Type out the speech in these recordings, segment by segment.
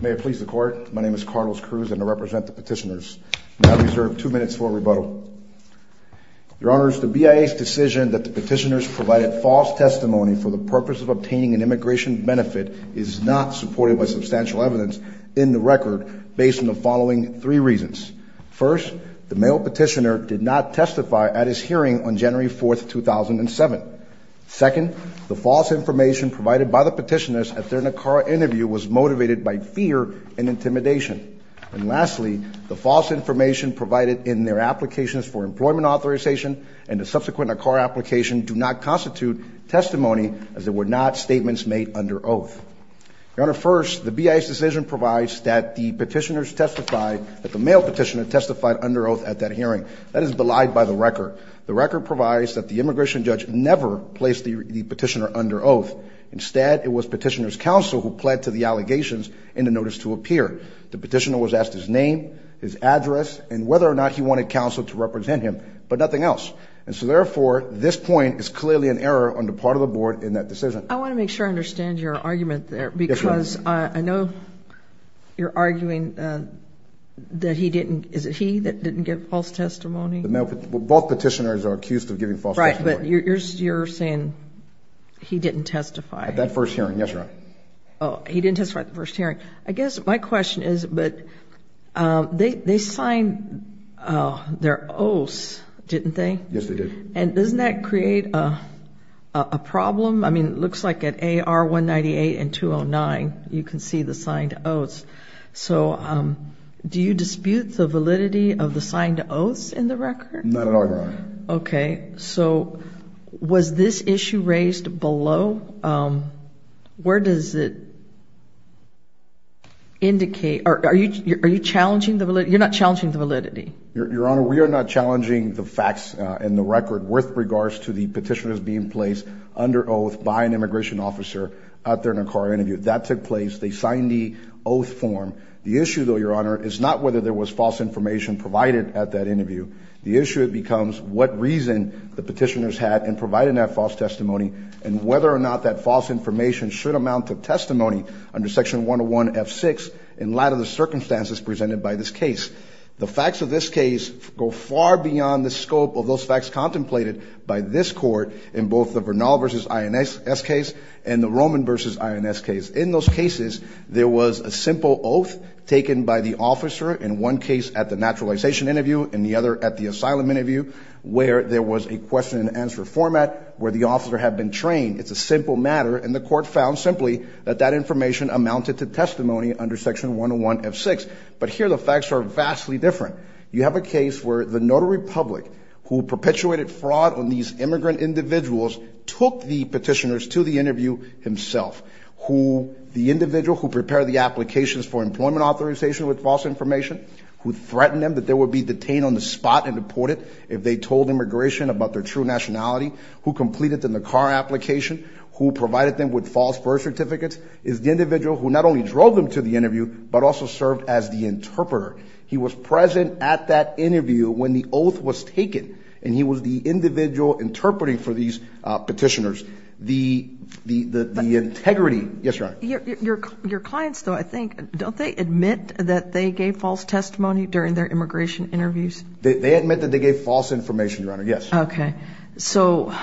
May it please the Court, my name is Carlos Cruz and I represent the petitioners. I reserve two minutes for rebuttal. Your Honors, the BIA's decision that the petitioners provided false testimony for the purpose of obtaining an immigration benefit is not supported by substantial evidence in the record based on the following three reasons. First, the male petitioner did not testify at his hearing on January 4, 2007. Second, the false information provided by the petitioners at their NACAR interview was motivated by fear and intimidation. And lastly, the false information provided in their applications for employment authorization and the subsequent NACAR application do not constitute testimony as they were not statements made under oath. Your Honor, first, the BIA's decision provides that the petitioners testified, that the male petitioner testified under oath at that hearing. That is belied by the record. The record provides that the immigration judge never placed the petitioner under oath. Instead, it was petitioner's counsel who pled to the allegations in the notice to appear. The petitioner was asked his name, his address, and whether or not he wanted counsel to represent him, but nothing else. And so therefore, this point is clearly an error on the part of the Board in that decision. I want to make sure I understand your argument there because I know you're arguing that he didn't, is it he that didn't give false testimony? Both petitioners are accused of giving false testimony. Right, but you're saying he didn't testify. At that first hearing, yes, Your Honor. Oh, he didn't testify at the first hearing. I guess my question is, but they signed their oaths, didn't they? Yes, they did. And doesn't that create a problem? I mean, it looks like at AR-198 and 209 you can see the signed oaths. So do you dispute the validity of the signed oaths in the record? Not at all, Your Honor. Okay. So was this issue raised below? Where does it indicate? Are you challenging the validity? You're not challenging the validity. Your Honor, we are not challenging the facts in the record with regards to the petitioners being placed under oath by an immigration officer out there in a car interview. That took place. They signed the oath form. The issue, though, Your Honor, is not whether there was false information provided at that interview. The issue becomes what reason the petitioners had in providing that false testimony and whether or not that false information should amount to testimony under Section 101F6 in light of the circumstances presented by this case. The facts of this case go far beyond the scope of those facts contemplated by this Court in both the Vernal v. INS case and the Roman v. INS case. In those cases, there was a simple oath taken by the officer in one case at the naturalization interview and the other at the asylum interview where there was a question-and-answer format where the officer had been trained. It's a simple matter, and the Court found simply that that information amounted to testimony under Section 101F6. But here the facts are vastly different. You have a case where the notary public who perpetuated fraud on these immigrant individuals took the petitioners to the interview himself, who the individual who prepared the applications for employment authorization with false information, who threatened them that they would be detained on the spot and deported if they told immigration about their true nationality, who completed them the car application, who provided them with false birth certificates, is the individual who not only drove them to the interview but also served as the interpreter. He was present at that interview when the oath was taken, and he was the individual interpreting for these petitioners. The integrity – yes, Your Honor? Your clients, though, I think, don't they admit that they gave false testimony during their immigration interviews? They admit that they gave false information, Your Honor. Yes. Okay. So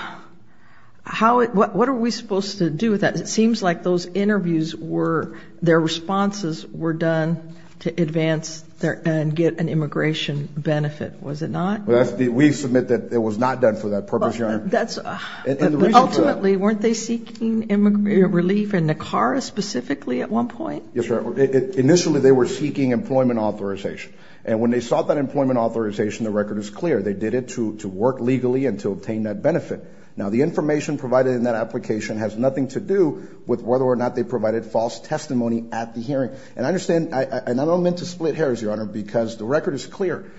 how – what are we supposed to do with that? It seems like those interviews were – their responses were done to advance and get an immigration benefit. Was it not? We submit that it was not done for that purpose, Your Honor. Ultimately, weren't they seeking relief in Nicara specifically at one point? Yes, Your Honor. Initially they were seeking employment authorization. And when they sought that employment authorization, the record is clear. They did it to work legally and to obtain that benefit. Now, the information provided in that application has nothing to do with whether or not they provided false testimony at the hearing. And I understand – and I don't mean to split hairs, Your Honor, because the record is clear.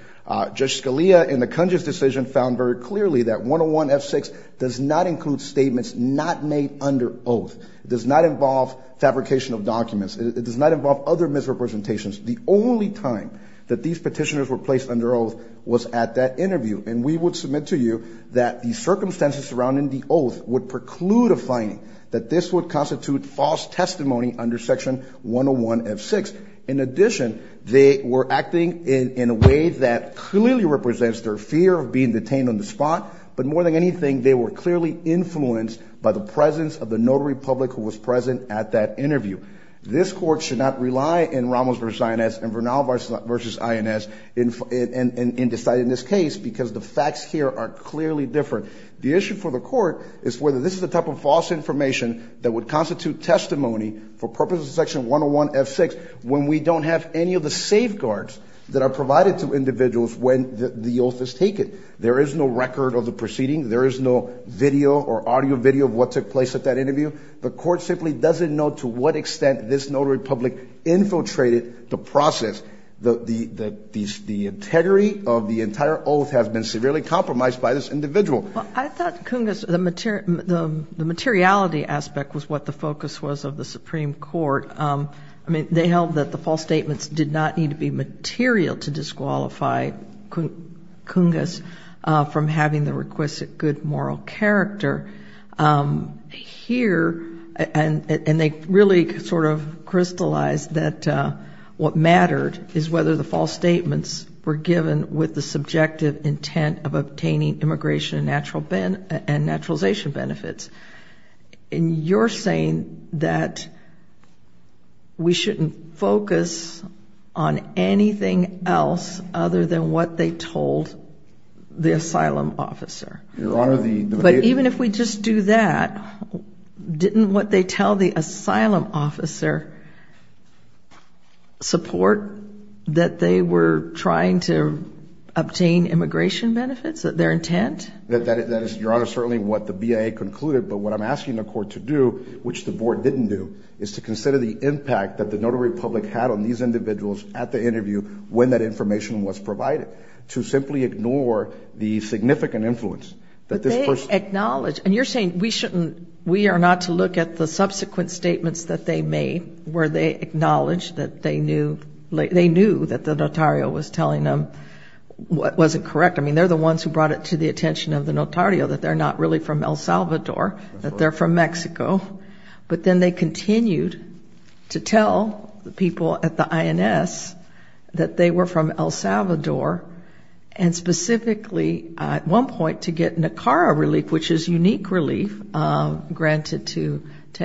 Judge Scalia, in the Kunji's decision, found very clearly that 101F6 does not include statements not made under oath. It does not involve fabrication of documents. It does not involve other misrepresentations. The only time that these petitioners were placed under oath was at that interview. And we would submit to you that the circumstances surrounding the oath would preclude a finding, that this would constitute false testimony under Section 101F6. In addition, they were acting in a way that clearly represents their fear of being detained on the spot. But more than anything, they were clearly influenced by the presence of the notary public who was present at that interview. This Court should not rely in Ramos v. INS and Vernal v. INS in deciding this case because the facts here are clearly different. The issue for the Court is whether this is the type of false information that would constitute testimony for purposes of Section 101F6 when we don't have any of the safeguards that are provided to individuals when the oath is taken. There is no record of the proceeding. There is no video or audio video of what took place at that interview. The Court simply doesn't know to what extent this notary public infiltrated the process. The integrity of the entire oath has been severely compromised by this individual. Well, I thought Cungas, the materiality aspect was what the focus was of the Supreme Court. I mean, they held that the false statements did not need to be material to disqualify Cungas from having the requisite good moral character. Here, and they really sort of crystallized that what mattered is whether the false statements were given with the subjective intent of obtaining immigration and naturalization benefits. And you're saying that we shouldn't focus on anything else other than what they told the asylum officer. But even if we just do that, didn't what they tell the asylum officer support that they were trying to obtain immigration benefits, their intent? That is, Your Honor, certainly what the BIA concluded, but what I'm asking the Court to do, which the Board didn't do, is to consider the impact that the notary public had on these individuals at the interview when that information was provided, to simply ignore the significant influence that this person. But they acknowledged, and you're saying we shouldn't, we are not to look at the subsequent statements that they made, where they acknowledged that they knew, they knew that the notario was telling them what wasn't correct. I mean, they're the ones who brought it to the attention of the notario that they're not really from El Salvador, that they're from Mexico. But then they continued to tell the people at the INS that they were from El Salvador, and specifically at one point to get NACARA relief, which is unique relief granted to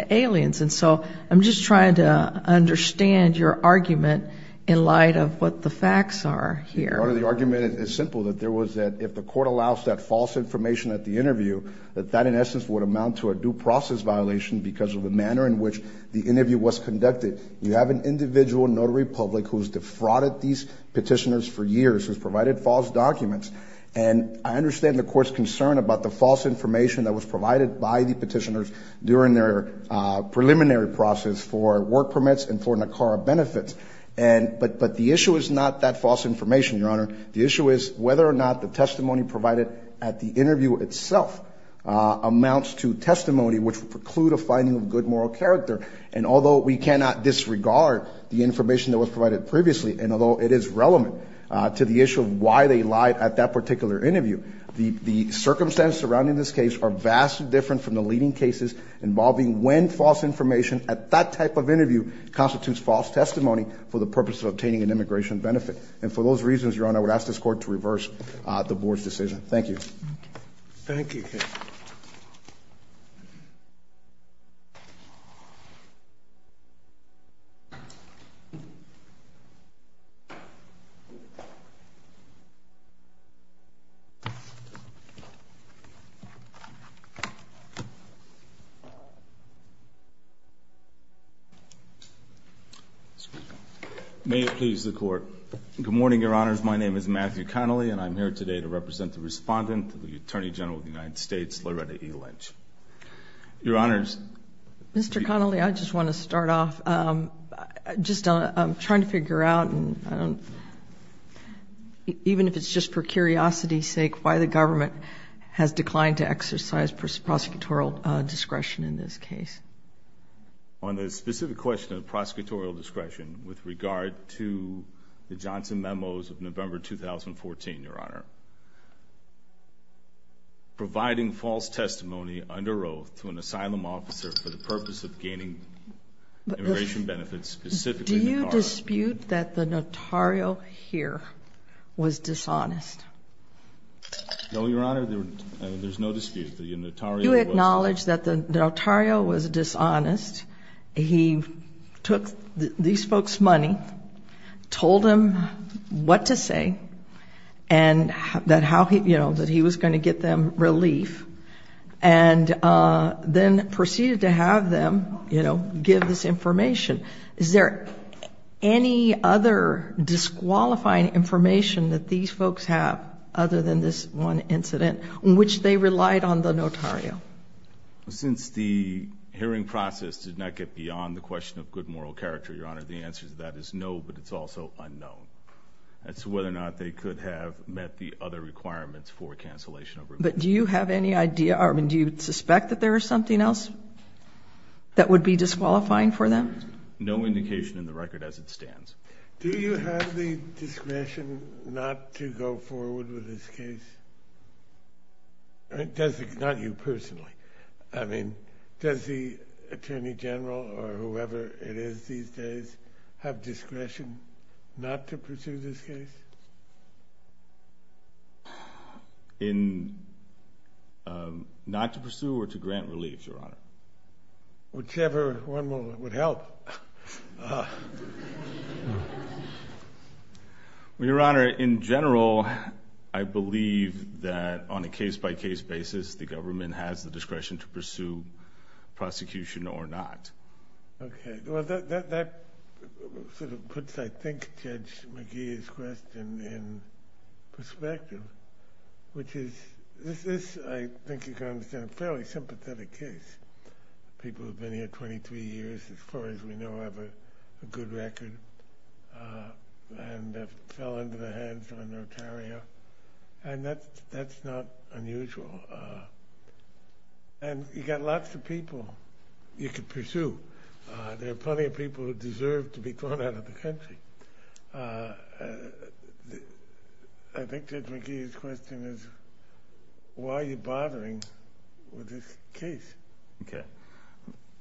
aliens. And so I'm just trying to understand your argument in light of what the facts are here. Your Honor, the argument is simple, that there was that if the Court allows that false information at the interview, that that in essence would amount to a due process violation because of the manner in which the interview was conducted. You have an individual notary public who's defrauded these petitioners for years, who's provided false documents, and I understand the Court's concern about the false information that was provided by the petitioners during their preliminary process for work permits and for NACARA benefits. But the issue is not that false information, Your Honor. The issue is whether or not the testimony provided at the interview itself amounts to testimony which would preclude a finding of good moral character. And although we cannot disregard the information that was provided previously, and although it is relevant to the issue of why they lied at that particular interview, the circumstances surrounding this case are vastly different from the leading cases involving when false information at that type of interview constitutes false testimony for the purpose of obtaining an immigration benefit. And for those reasons, Your Honor, I would ask this Court to reverse the Board's decision. Thank you. Thank you. May it please the Court. Good morning, Your Honors. My name is Matthew Connolly, and I'm here today to represent the Respondent to the Attorney General of the United States, Loretta E. Lynch. Your Honors. Mr. Connolly, I just want to start off. Just trying to figure out, even if it's just for curiosity's sake, why the government has declined to exercise prosecutorial discretion in this case. On the specific question of prosecutorial discretion, with regard to the Johnson memos of November 2014, Your Honor, providing false testimony under oath to an asylum officer for the purpose of gaining immigration benefits, specifically notario. Do you dispute that the notario here was dishonest? No, Your Honor, there's no dispute. You acknowledge that the notario was dishonest. He took these folks' money, told them what to say, and that he was going to get them relief, and then proceeded to have them give this information. Is there any other disqualifying information that these folks have, other than this one incident, in which they relied on the notario? Since the hearing process did not get beyond the question of good moral character, Your Honor, the answer to that is no, but it's also unknown. As to whether or not they could have met the other requirements for cancellation of relief. But do you have any idea, or do you suspect that there is something else that would be disqualifying for them? No indication in the record as it stands. Do you have the discretion not to go forward with this case? Not you personally. I mean, does the Attorney General or whoever it is these days have discretion not to pursue this case? In not to pursue or to grant relief, Your Honor? Whichever one would help. Well, Your Honor, in general, I believe that on a case-by-case basis, the government has the discretion to pursue prosecution or not. Okay. Well, that sort of puts, I think, Judge McGee's question in perspective, which is this, I think you can understand, a fairly sympathetic case. People who have been here 23 years, as far as we know, have a good record and have fell into the hands of a notario, and that's not unusual. And you've got lots of people you could pursue. There are plenty of people who deserve to be thrown out of the country. I think Judge McGee's question is, why are you bothering with this case? Okay.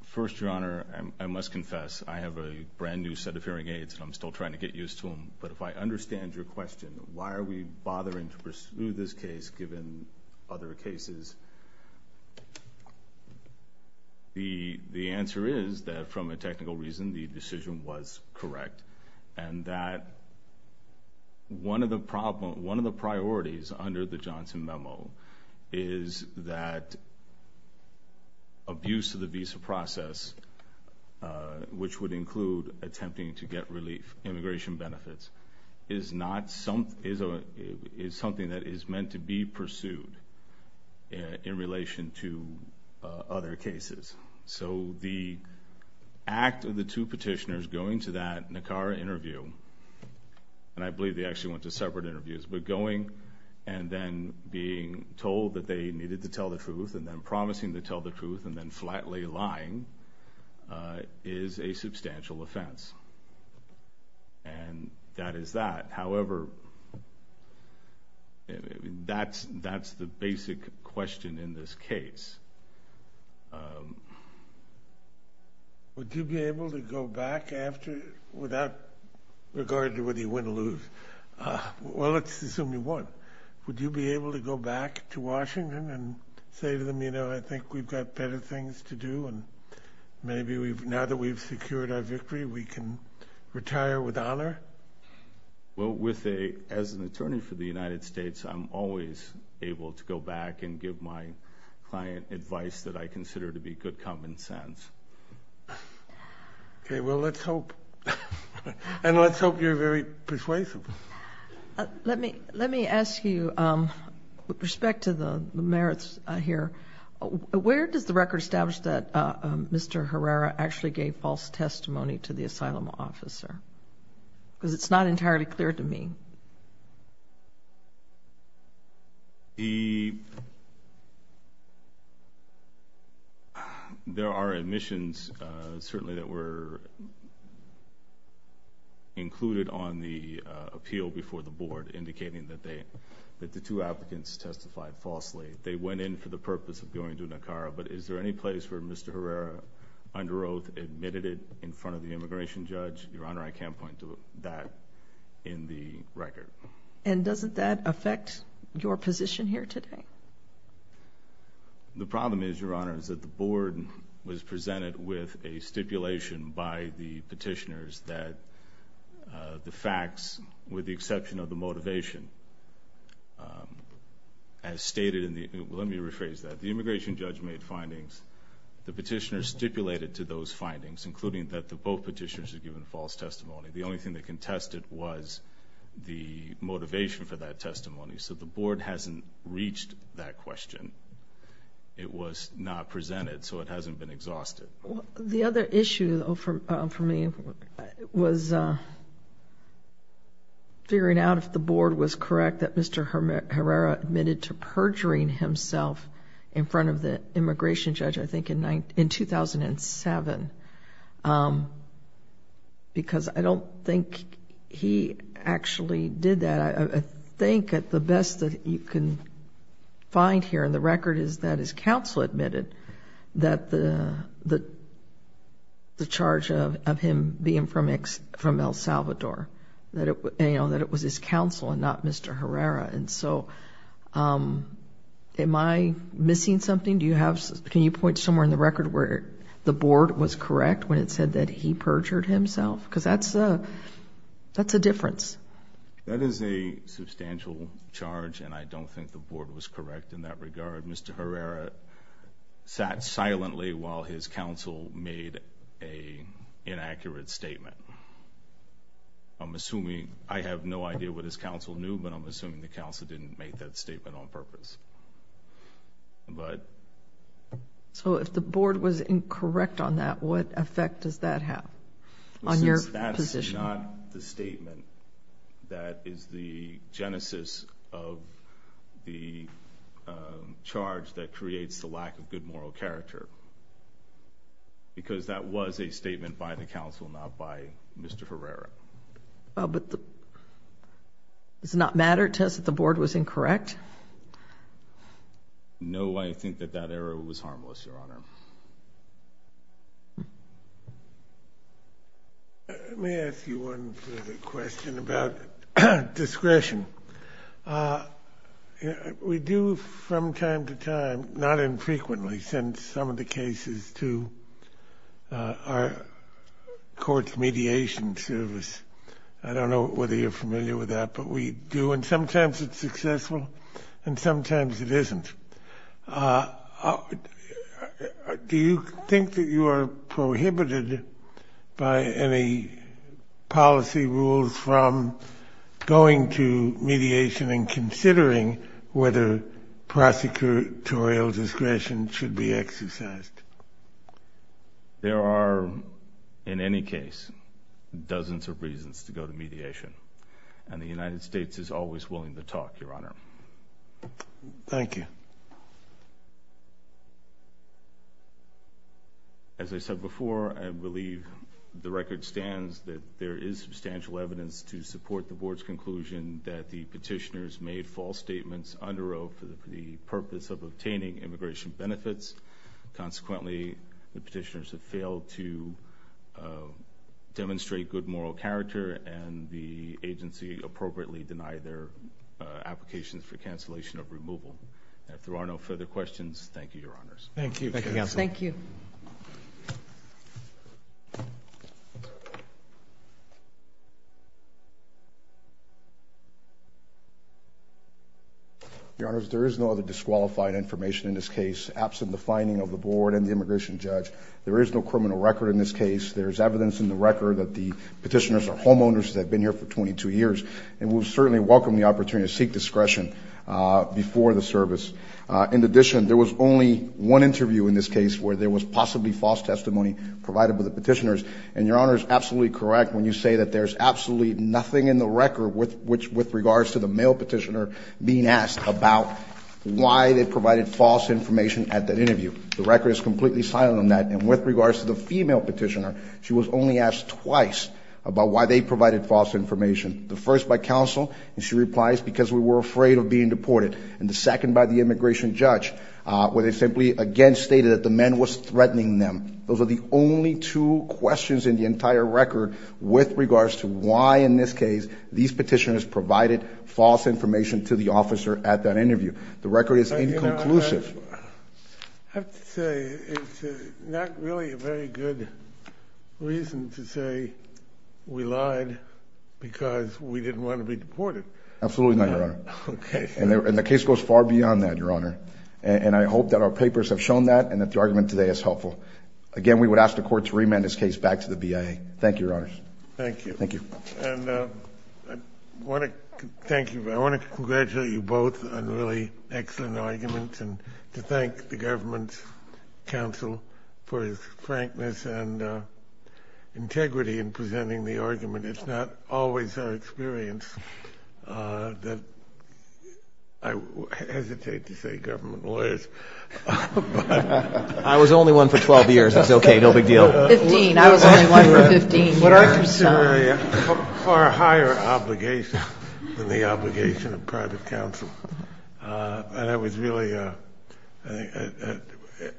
First, Your Honor, I must confess, I have a brand new set of hearing aids and I'm still trying to get used to them, but if I understand your question, why are we bothering to pursue this case given other cases, the answer is that, from a technical reason, the decision was correct and that one of the priorities under the Johnson memo is that abuse of the visa process, which would include attempting to get relief, immigration benefits, is something that is meant to be pursued in relation to other cases. The act of the two petitioners going to that NACARA interview, and I believe they actually went to separate interviews, but going and then being told that they needed to tell the truth and then promising to tell the truth and then flatly lying is a substantial offense. And that is that. However, that's the basic question in this case. Would you be able to go back after, without regard to whether you win or lose, well, let's assume you won. Would you be able to go back to Washington and say to them, you know, I think we've got better things to do and maybe now that we've secured our victory we can retire with honor? Well, as an attorney for the United States, I'm always able to go back and give my client advice that I consider to be good common sense. Okay. Well, let's hope. And let's hope you're very persuasive. Let me ask you, with respect to the merits here, where does the record establish that Mr. Herrera actually gave false testimony to the asylum officer? Because it's not entirely clear to me. There are admissions, certainly, that were included on the appeal before the board indicating that the two applicants testified falsely. They went in for the purpose of going to Nicara. But is there any place where Mr. Herrera, under oath, admitted it in front of the immigration judge? Your Honor, I can't point to that in the record. And doesn't that affect your position here today? The problem is, Your Honor, is that the board was presented with a stipulation by the petitioners that the facts, with the exception of the motivation, as stated in the immigration judge made findings. The petitioners stipulated to those findings, including that both petitioners had given false testimony. The only thing that contested was the motivation for that testimony. So the board hasn't reached that question. It was not presented, so it hasn't been exhausted. The other issue for me was figuring out if the board was correct that Mr. Herrera admitted to perjuring himself in front of the immigration judge, I think, in 2007. Because I don't think he actually did that. I think that the best that you can find here in the record is that his the charge of him being from El Salvador, that it was his counsel and not Mr. Herrera. And so, am I missing something? Can you point to somewhere in the record where the board was correct when it said that he perjured himself? Because that's a difference. That is a substantial charge, and I don't think the board was correct in that regard. I believe Mr. Herrera sat silently while his counsel made an inaccurate statement. I'm assuming, I have no idea what his counsel knew, but I'm assuming the counsel didn't make that statement on purpose. So if the board was incorrect on that, what effect does that have on your position? That is not the statement. That is the genesis of the charge that creates the lack of good moral character. Because that was a statement by the counsel, not by Mr. Herrera. But does it not matter, it says that the board was incorrect? No, I think that that error was harmless, Your Honor. Let me ask you one further question about discretion. We do from time to time, not infrequently, send some of the cases to our court's mediation service. I don't know whether you're familiar with that, but we do, and sometimes it's successful and sometimes it isn't. Do you think that you are prohibited by any policy rules from going to mediation and considering whether prosecutorial discretion should be exercised? There are, in any case, dozens of reasons to go to mediation, and the United States is always willing to talk, Your Honor. Thank you. As I said before, I believe the record stands that there is substantial evidence to support the board's conclusion that the petitioners made false statements under oath for the purpose of obtaining immigration benefits. Consequently, the petitioners have failed to demonstrate good moral character, and the agency appropriately denied their applications for cancellation of removal. If there are no further questions, thank you, Your Honors. Thank you, counsel. Thank you. Your Honors, there is no other disqualified information in this case. Absent the finding of the board and the immigration judge, there is no criminal record in this case. There is evidence in the record that the petitioners are homeowners that have been here for 22 years, and we will certainly welcome the opportunity to seek discretion before the service. In addition, there was only one interview in this case where there was possibly false testimony provided by the petitioners, and Your Honor is absolutely correct when you say that there is absolutely nothing in the record with regards to the male petitioner being asked about why they provided false information at that interview. The record is completely silent on that, and with regards to the female petitioner, she was only asked twice about why they provided false information. The first by counsel, and she replies, because we were afraid of being deported. And the second by the immigration judge, where they simply, again, stated that the man was threatening them. Those are the only two questions in the entire record with regards to why in this case these petitioners provided false information to the officer at that interview. The record is inconclusive. I have to say it's not really a very good reason to say we lied because we didn't want to be deported. Absolutely not, Your Honor. Okay. And the case goes far beyond that, Your Honor, and I hope that our papers have shown that and that the argument today is helpful. Again, we would ask the Court to remand this case back to the BIA. Thank you, Your Honors. Thank you. Thank you. And I want to thank you. I want to congratulate you both on really excellent arguments and to thank the government counsel for his frankness and integrity in presenting the argument. It's not always our experience that I hesitate to say government lawyers. I was only one for 12 years. That's okay. No big deal. 15. I was only one for 15 years. What I consider a far higher obligation than the obligation of private counsel. And it was really an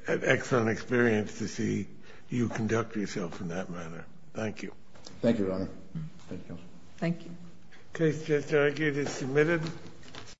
excellent experience to see you conduct yourself in that manner. Thank you. Thank you, Your Honor. Thank you, Counsel. Thank you. The case just argued is submitted.